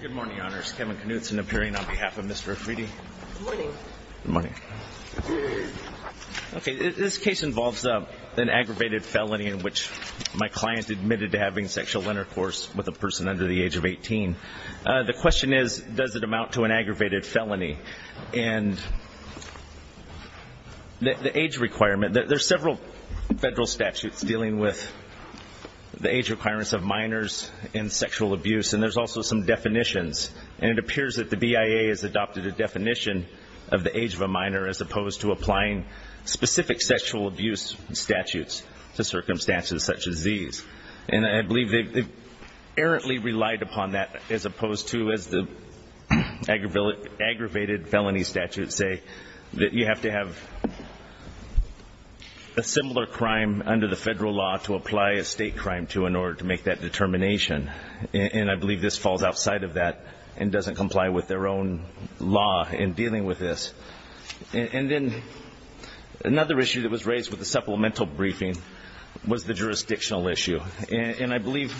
Good morning, Honors. Kevin Knutson appearing on behalf of Mr. Afridi. Good morning. Good morning. Okay, this case involves an aggravated felony in which my client admitted to having sexual intercourse with a person under the age of 18. The question is, does it amount to an aggravated felony? And the age requirement, there's several federal statutes dealing with the age requirements of minors and sexual abuse, and there's also some definitions. And it appears that the BIA has adopted a definition of the age of a minor as opposed to applying specific sexual abuse statutes to circumstances such as these. And I believe they've errantly relied upon that as opposed to, as the aggravated felony statutes say, that you have to have a similar crime under the federal law to apply a state crime to in order to make that determination. And I believe this falls outside of that and doesn't comply with their own law in dealing with this. And then another issue that was raised with the supplemental briefing was the jurisdictional issue. And I believe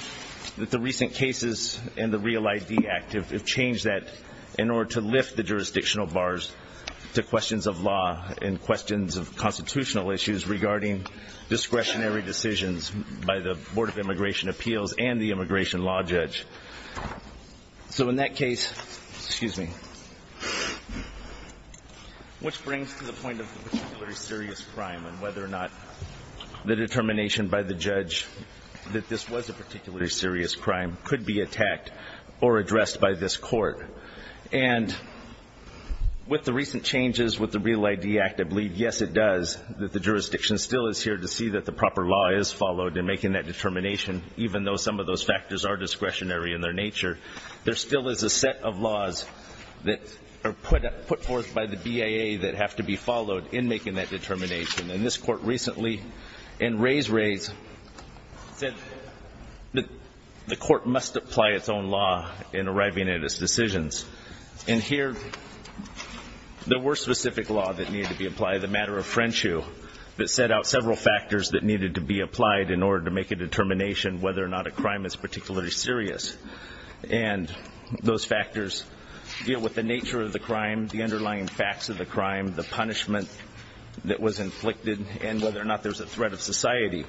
that the recent cases and the REAL ID Act have changed that in order to lift the jurisdictional bars to questions of law and questions of constitutional issues regarding discretionary decisions by the Board of Immigration Appeals and the immigration law judge. So in that case, excuse me, which brings to the point of the particularly serious crime and whether or not the determination by the judge that this was a particularly serious crime could be attacked or addressed by this court. And with the recent changes with the REAL ID Act, I believe, yes, it does, that the jurisdiction still is here to see that the proper law is followed in making that determination, even though some of those factors are discretionary in their nature. There still is a set of laws that are put forth by the BIA that have to be followed in making that determination. And this court recently in Rays, Rays said that the court must apply its own law in arriving at its decisions. And here there were specific laws that needed to be applied. that set out several factors that needed to be applied in order to make a determination whether or not a crime is particularly serious. And those factors deal with the nature of the crime, the underlying facts of the crime, the punishment that was inflicted, and whether or not there's a threat of society.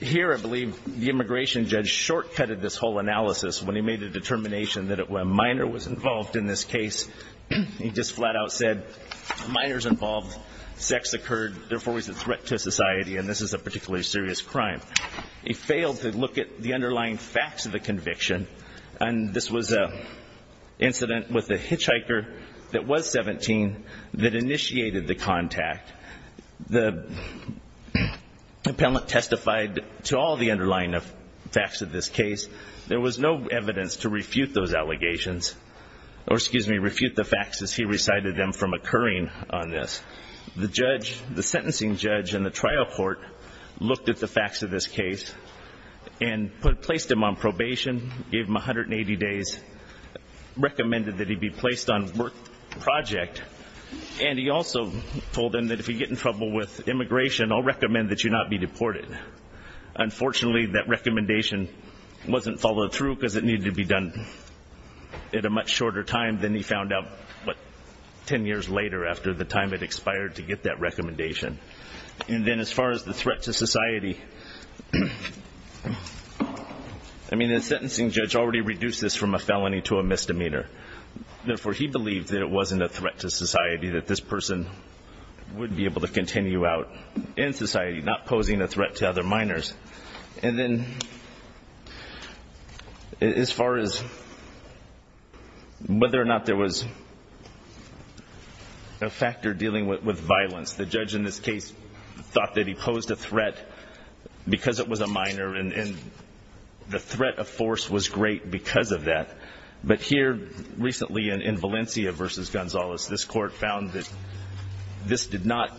Here I believe the immigration judge shortcutted this whole analysis when he made a determination that a minor was involved in this case. He just flat out said, minors involved, sex occurred, therefore he's a threat to society, and this is a particularly serious crime. He failed to look at the underlying facts of the conviction. And this was an incident with a hitchhiker that was 17 that initiated the contact. The appellant testified to all the underlying facts of this case. There was no evidence to refute those allegations, or excuse me, refute the facts as he recited them from occurring on this. The judge, the sentencing judge in the trial court looked at the facts of this case and placed him on probation, gave him 180 days, recommended that he be placed on work project, and he also told him that if he'd get in trouble with immigration, I'll recommend that you not be deported. Unfortunately, that recommendation wasn't followed through because it needed to be done at a much shorter time than he found out 10 years later after the time it expired to get that recommendation. And then as far as the threat to society, I mean, the sentencing judge already reduced this from a felony to a misdemeanor. Therefore, he believed that it wasn't a threat to society, that this person would be able to continue out in society, not posing a threat to other minors. And then as far as whether or not there was a factor dealing with violence, the judge in this case thought that he posed a threat because it was a minor, and the threat of force was great because of that. But here, recently in Valencia v. Gonzalez, this Court found that this did not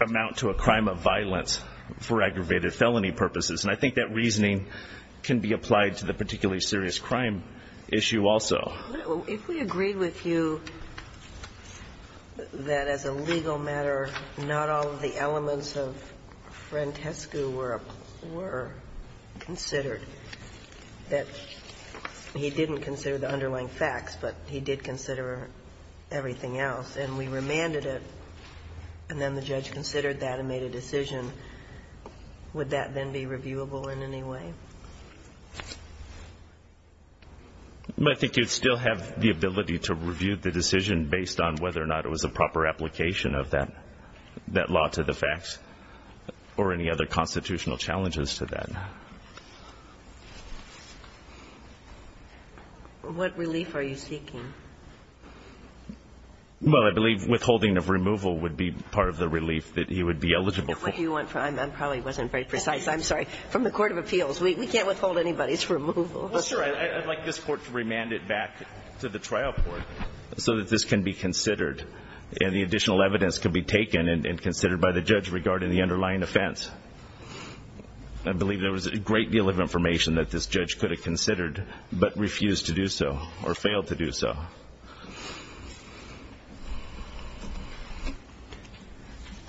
amount to a crime of violence for aggravated felony purposes. And I think that reasoning can be applied to the particularly serious crime issue also. If we agreed with you that as a legal matter, not all of the elements of Frantescu were considered, that he didn't consider the underlying facts, but he did consider everything else, and we remanded it, and then the judge considered that and made a decision, would that then be reviewable in any way? I think you'd still have the ability to review the decision based on whether or not it was a proper application of that law to the facts or any other constitutional challenges to that. What relief are you seeking? Well, I believe withholding of removal would be part of the relief that he would be eligible for. I probably wasn't very precise. I'm sorry. From the Court of Appeals. We can't withhold anybody's removal. Well, sure. I'd like this Court to remand it back to the trial court so that this can be considered and the additional evidence can be taken and considered by the judge regarding the underlying offense. I believe there was a great deal of information that this judge could have considered but refused to do so or failed to do so.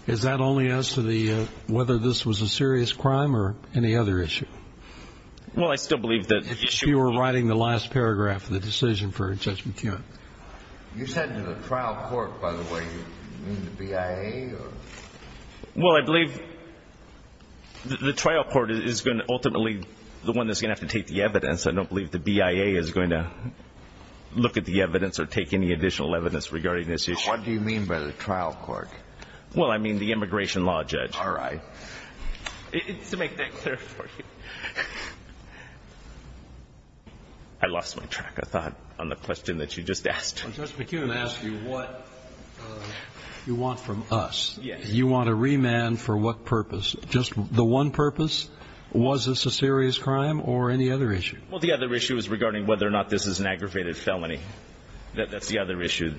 Is that only as to whether this was a serious crime or any other issue? Well, I still believe that if you were writing the last paragraph of the decision for Judge McKeon. You said to the trial court, by the way, you mean the BIA or? Well, I believe the trial court is going to ultimately be the one that's going to have to take the evidence. I don't believe the BIA is going to look at the evidence or take any additional evidence regarding this issue. What do you mean by the trial court? Well, I mean the immigration law judge. All right. To make that clear for you. I lost my track of thought on the question that you just asked. Well, Judge McKeon asked you what you want from us. Yes. You want a remand for what purpose? Just the one purpose. Was this a serious crime or any other issue? Well, the other issue is regarding whether or not this is an aggravated felony. That's the other issue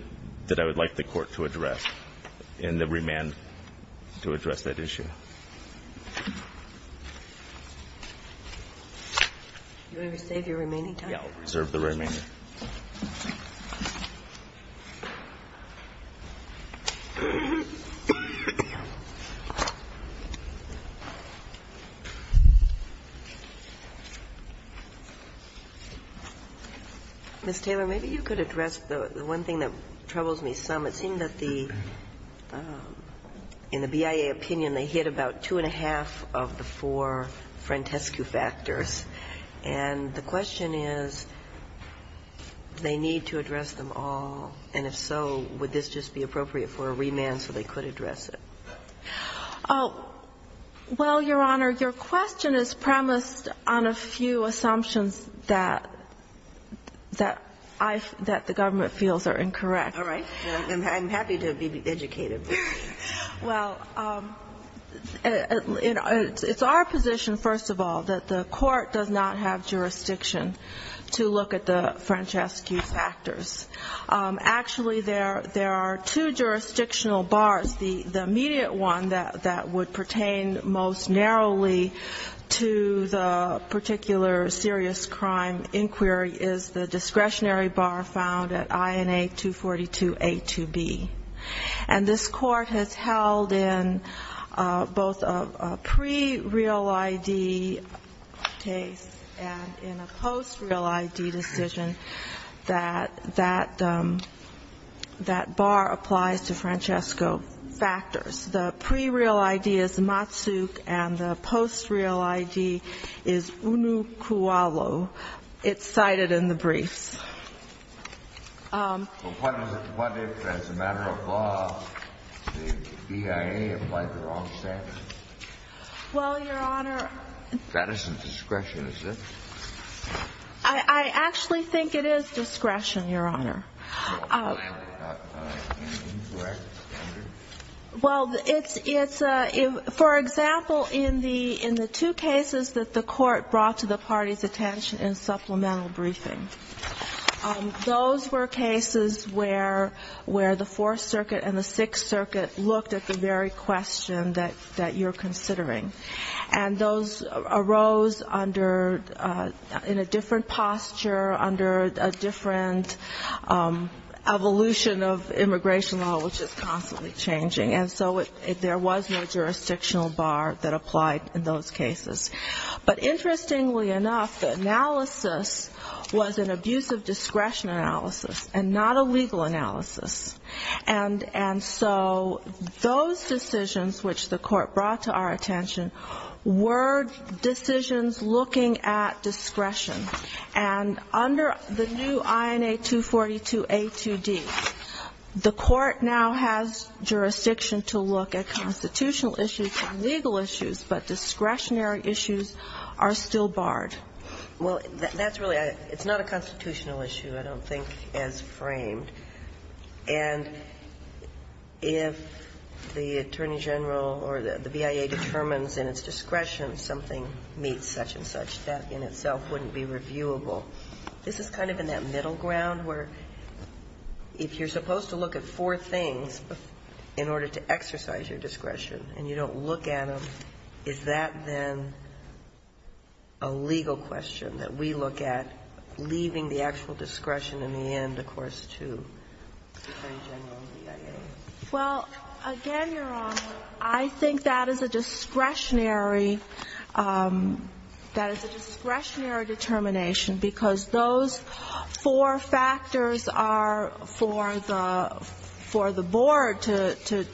that I would like the court to address and the remand to address that issue. Do you want to save your remaining time? Yeah, I'll reserve the remaining. Ms. Taylor, maybe you could address the one thing that troubles me some. It seems that the – in the BIA opinion, they hit about two and a half of the four frantescue factors. And the question is, does the BIA have the capacity to do that? Do they need to address them all? And if so, would this just be appropriate for a remand so they could address it? Well, Your Honor, your question is premised on a few assumptions that I – that the government feels are incorrect. All right. I'm happy to be educated. Well, it's our position, first of all, that the court does not have jurisdiction to look at the frantescue factors. Actually, there are two jurisdictional bars. The immediate one that would pertain most narrowly to the particular serious crime inquiry is the discretionary bar found at INA 242A2B. And this Court has held in both a pre-real ID case and in a post-real ID decision that that bar applies to frantescue factors. The pre-real ID is Matsuk, and the post-real ID is Unukwalo. It's cited in the briefs. Well, what if, as a matter of law, the BIA applied the wrong standard? Well, Your Honor – That isn't discretion, is it? I actually think it is discretion, Your Honor. So it's not an incorrect standard? Well, it's – for example, in the two cases that the court brought to the party's attention in supplemental briefing, those were cases where the Fourth Circuit and the Sixth Circuit looked at the very question that you're considering. And those arose under – in a different posture, under a different evolution of immigration law, which is constantly changing. And so there was no jurisdictional bar that applied in those cases. But interestingly enough, the analysis was an abusive discretion analysis and not a legal analysis. And so those decisions which the court brought to our attention were decisions looking at discretion. And under the new INA 242A2D, the court now has jurisdiction to look at constitutional issues and legal issues, but discretionary issues are still barred. Well, that's really – it's not a constitutional issue, I don't think, as framed. And if the Attorney General or the BIA determines in its discretion something meets such-and-such, that in itself wouldn't be reviewable. This is kind of in that middle ground where if you're supposed to look at four things in order to exercise your discretion and you don't look at them, is that then a legal question that we look at, leaving the actual discretion in the end, of course, to the Attorney General and the BIA? Well, again, Your Honor, I think that is a discretionary – that is a discretionary determination because those four factors are for the board to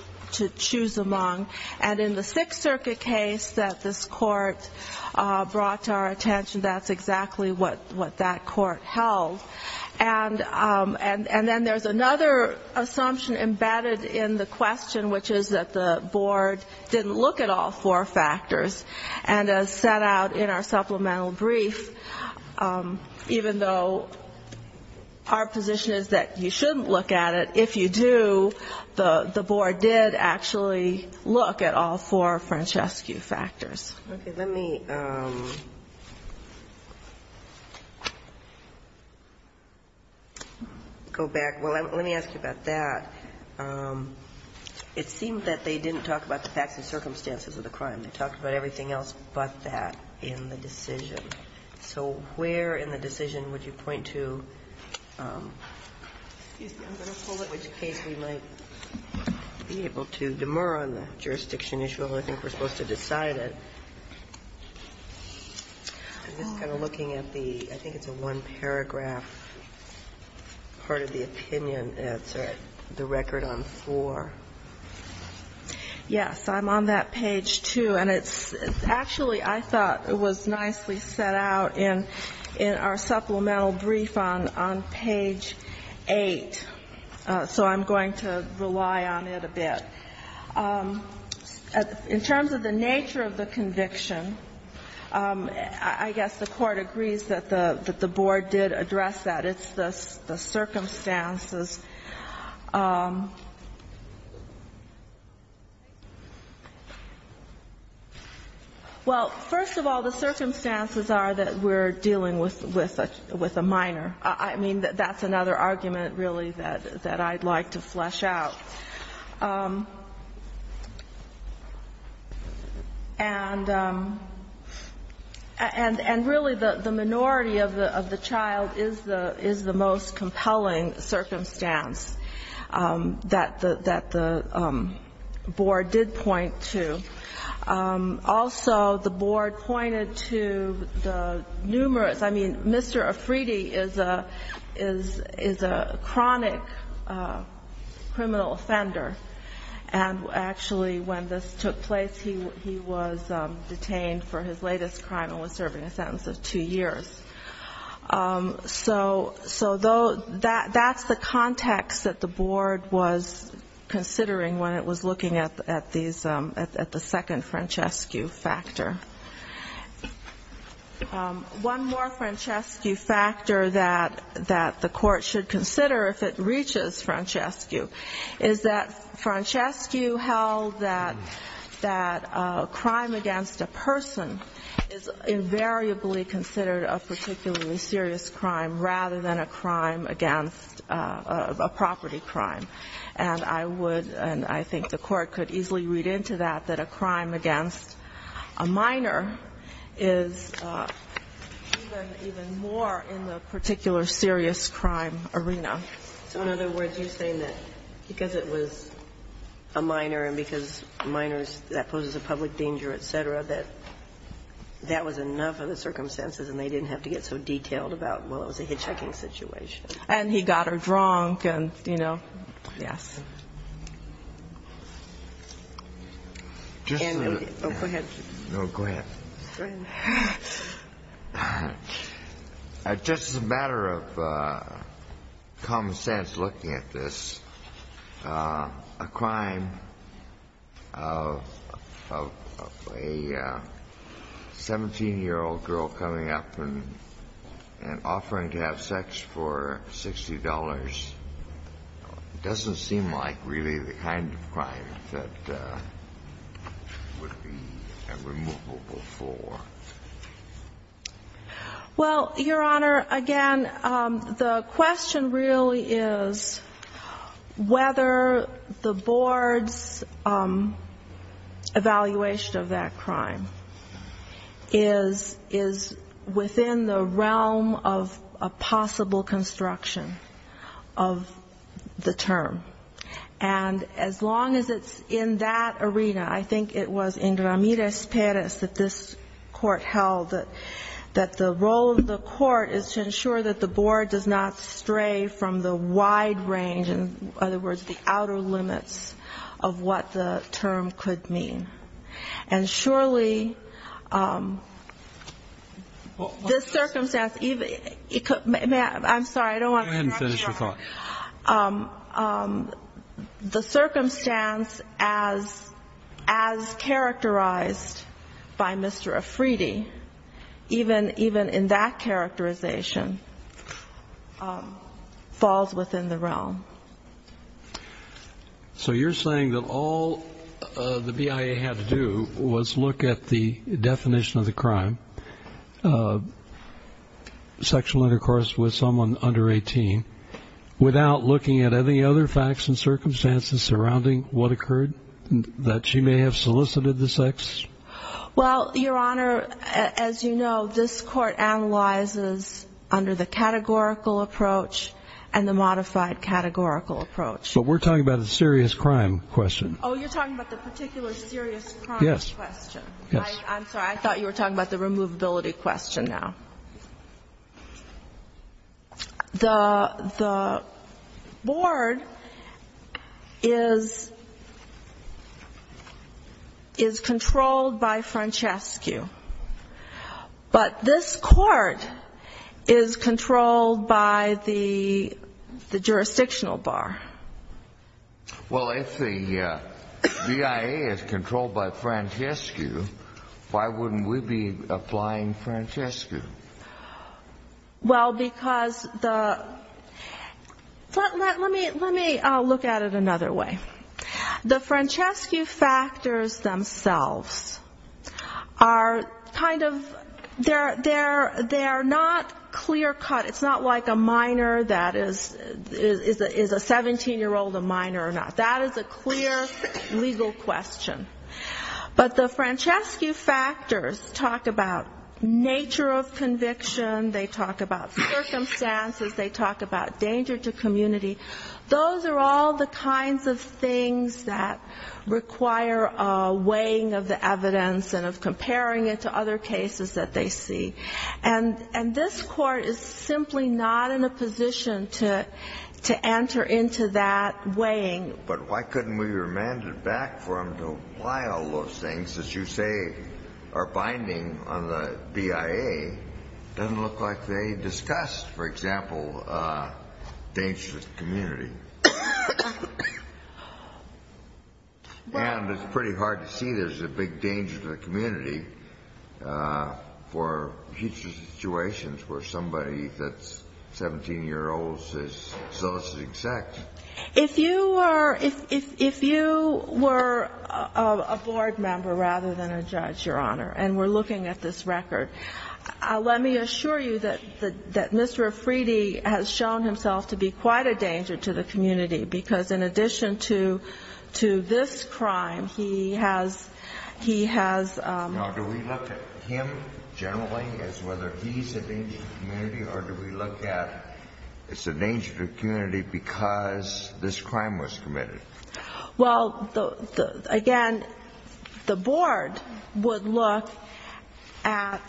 choose among. And in the Sixth Circuit case that this court brought to our attention, that's exactly what that court held. And then there's another assumption embedded in the question, which is that the board didn't look at all four factors. And as set out in our supplemental brief, even though our position is that you shouldn't look at it, if you do, the board did actually look at all four Francescu factors. Okay. Let me go back. Well, let me ask you about that. It seemed that they didn't talk about the facts and circumstances of the crime. They talked about everything else but that in the decision. So where in the decision would you point to – excuse me, I'm going to pull it, which case we might be able to demur on the jurisdiction issue. I think we're supposed to decide it. I'm just kind of looking at the – I think it's a one-paragraph part of the opinion. It's the record on four. Yes. I'm on that page, too. And it's – actually, I thought it was nicely set out in our supplemental brief on page 8. So I'm going to rely on it a bit. In terms of the nature of the conviction, I guess the court agrees that the board did address that. It's the circumstances. Well, first of all, the circumstances are that we're dealing with a minor. I mean, that's another argument, really, that I'd like to flesh out. And really, the minority of the child is the most compelling circumstance that the board did point to. Also, the board pointed to the numerous – I mean, Mr. Afridi is a chronic criminal offender. And actually, when this took place, he was detained for his latest crime and was serving a sentence of two years. So that's the context that the board was considering when it was looking at these – at the second Francescu factor. One more Francescu factor that the court should consider if it reaches Francescu is that Francescu held that a crime against a person is invariably considered a particularly serious crime rather than a crime against a property crime. And I would – and I think the court could easily read into that, that a crime against a minor is even more in the particular serious crime arena. So in other words, you're saying that because it was a minor and because minors – that poses a public danger, et cetera, that that was enough of the circumstances and they didn't have to get so detailed about, well, it was a hitchhiking situation. And he got her drunk and, you know, yes. Just a matter of common sense looking at this, a crime of a 17-year-old girl coming up and offering to have sex for $60 doesn't seem like really the kind of crime that would be a removal before. Well, Your Honor, again, the question really is whether the board's evaluation of that crime is within the realm of a possible construction of the term. And as long as it's in that arena, I think it was in Ramirez Perez that this court held that the role of the court is to ensure that the board does not stray from the wide range, in other words, the outer limits of what the term could mean. And surely this circumstance – I'm sorry, I don't want to interrupt you. The circumstance as characterized by Mr. Efride, even in that characterization, falls within the realm. So you're saying that all the BIA had to do was look at the definition of the crime, sexual intercourse with someone under 18, without looking at any other facts and circumstances surrounding what occurred, that she may have solicited the sex? Well, Your Honor, as you know, this court analyzes under the categorical approach and the modified categorical approach. But we're talking about a serious crime question. Oh, you're talking about the particular serious crime question. Yes. I'm sorry, I thought you were talking about the removability question now. The board is controlled by Francescu, but this court is controlled by the jurisdictional bar. Well, if the BIA is controlled by Francescu, why wouldn't we be applying Francescu? Well, because the – let me look at it another way. The Francescu factors themselves are kind of – they're not clear-cut. It's not like a minor that is a 17-year-old a minor or not. That is a clear legal question. But the Francescu factors talk about nature of conviction, they talk about circumstances, they talk about danger to community. Those are all the kinds of things that require a weighing of the evidence and of comparing it to other cases that they see. And this court is simply not in a position to enter into that weighing. But why couldn't we remand it back for them to apply all those things that you say are binding on the BIA? It doesn't look like they discussed, for example, danger to the community. And it's pretty hard to see there's a big danger to the community for future situations where somebody that's 17 years old is soliciting sex. If you were a board member rather than a judge, Your Honor, and were looking at this record, let me assure you that Mr. Afridi has shown himself to be quite a danger to the community, because in addition to this crime, he has – Now, do we look at him generally as whether he's a danger to the community, or do we look at it's a danger to the community because this crime was committed? Well, again, the board would look at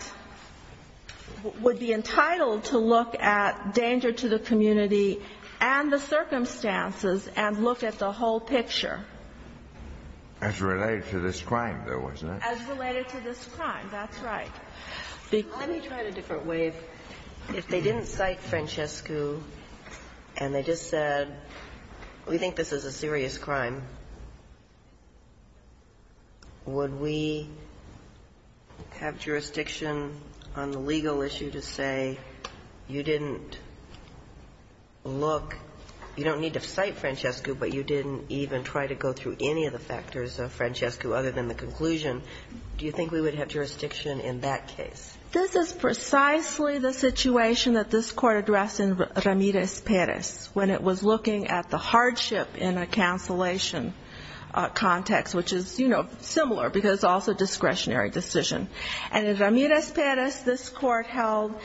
– would be entitled to look at danger to the community and the circumstances and look at the whole picture. As related to this crime, though, wasn't it? As related to this crime, that's right. Let me try it a different way. If they didn't cite Francescu and they just said we think this is a serious crime, would we have jurisdiction on the legal issue to say you didn't look – you don't need to cite Francescu, but you didn't even try to go through any of the factors of Francescu other than the conclusion. Do you think we would have jurisdiction in that case? This is precisely the situation that this Court addressed in Ramirez-Perez when it was looking at the hardship in a cancellation context, which is, you know, similar because it's also a discretionary decision. And in Ramirez-Perez, this Court held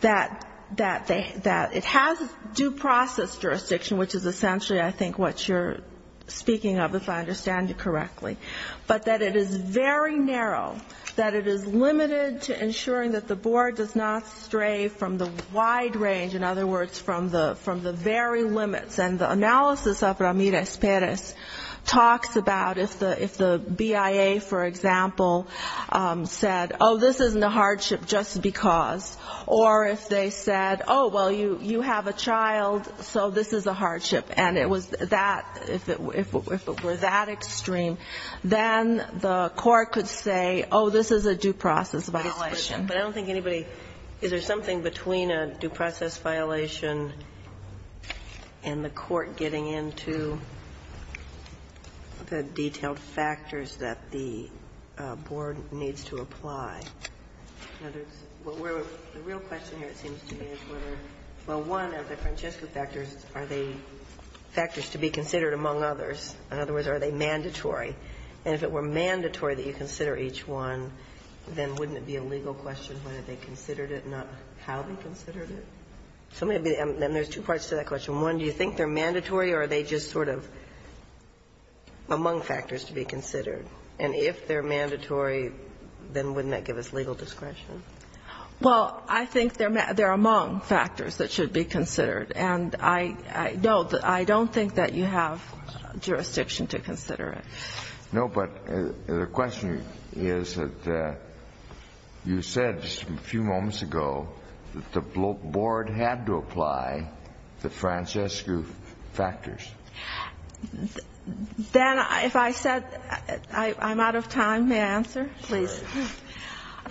that it has due process jurisdiction, which is essentially, I think, what you're speaking of, if I understand you correctly, but that it is very narrow, that it is limited to ensuring that the Board does not stray from the wide range, in other words, from the very limits. And the analysis of Ramirez-Perez talks about if the BIA, for example, said, oh, this isn't a hardship just because, or if they said, oh, well, you have a child, so this is a hardship. And it was that, if it were that extreme, then the Court could say, oh, this is a due process violation. But I don't think anybody, is there something between a due process violation and the Court getting into the detailed factors that the Board needs to apply? The real question here, it seems to me, is whether, well, one of the Francescu factors, are they factors to be considered among others? In other words, are they mandatory? And if it were mandatory that you consider each one, then wouldn't it be a legal question whether they considered it, not how they considered it? So maybe there's two parts to that question. One, do you think they're mandatory, or are they just sort of among factors to be considered? And if they're mandatory, then wouldn't that give us legal discretion? Well, I think they're among factors that should be considered. And I don't think that you have jurisdiction to consider it. No, but the question is that you said a few moments ago that the Board had to apply the Francescu factors. Dan, if I said, I'm out of time, may I answer, please?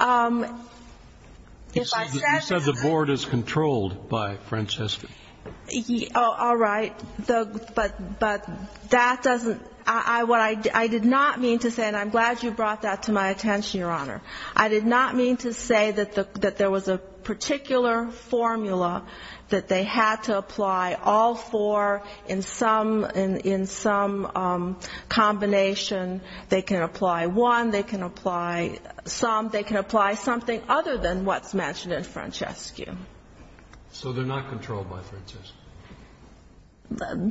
You said the Board is controlled by Francescu. All right. But that doesn't, what I did not mean to say, and I'm glad you brought that to my attention, Your Honor. I did not mean to say that there was a particular formula that they had to apply all four in some combination. They can apply one, they can apply some, they can apply something other than what's mentioned in Francescu. So they're not controlled by Francescu?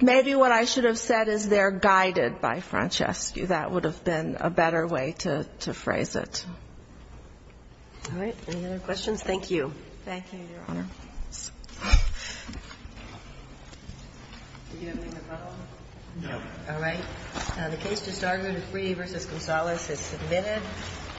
Maybe what I should have said is they're guided by Francescu. That would have been a better way to phrase it. All right. Any other questions? Thank you. Thank you, Your Honor. Do you have anything to follow? No. All right. The case just argued is Free v. Gonzalez. It's submitted.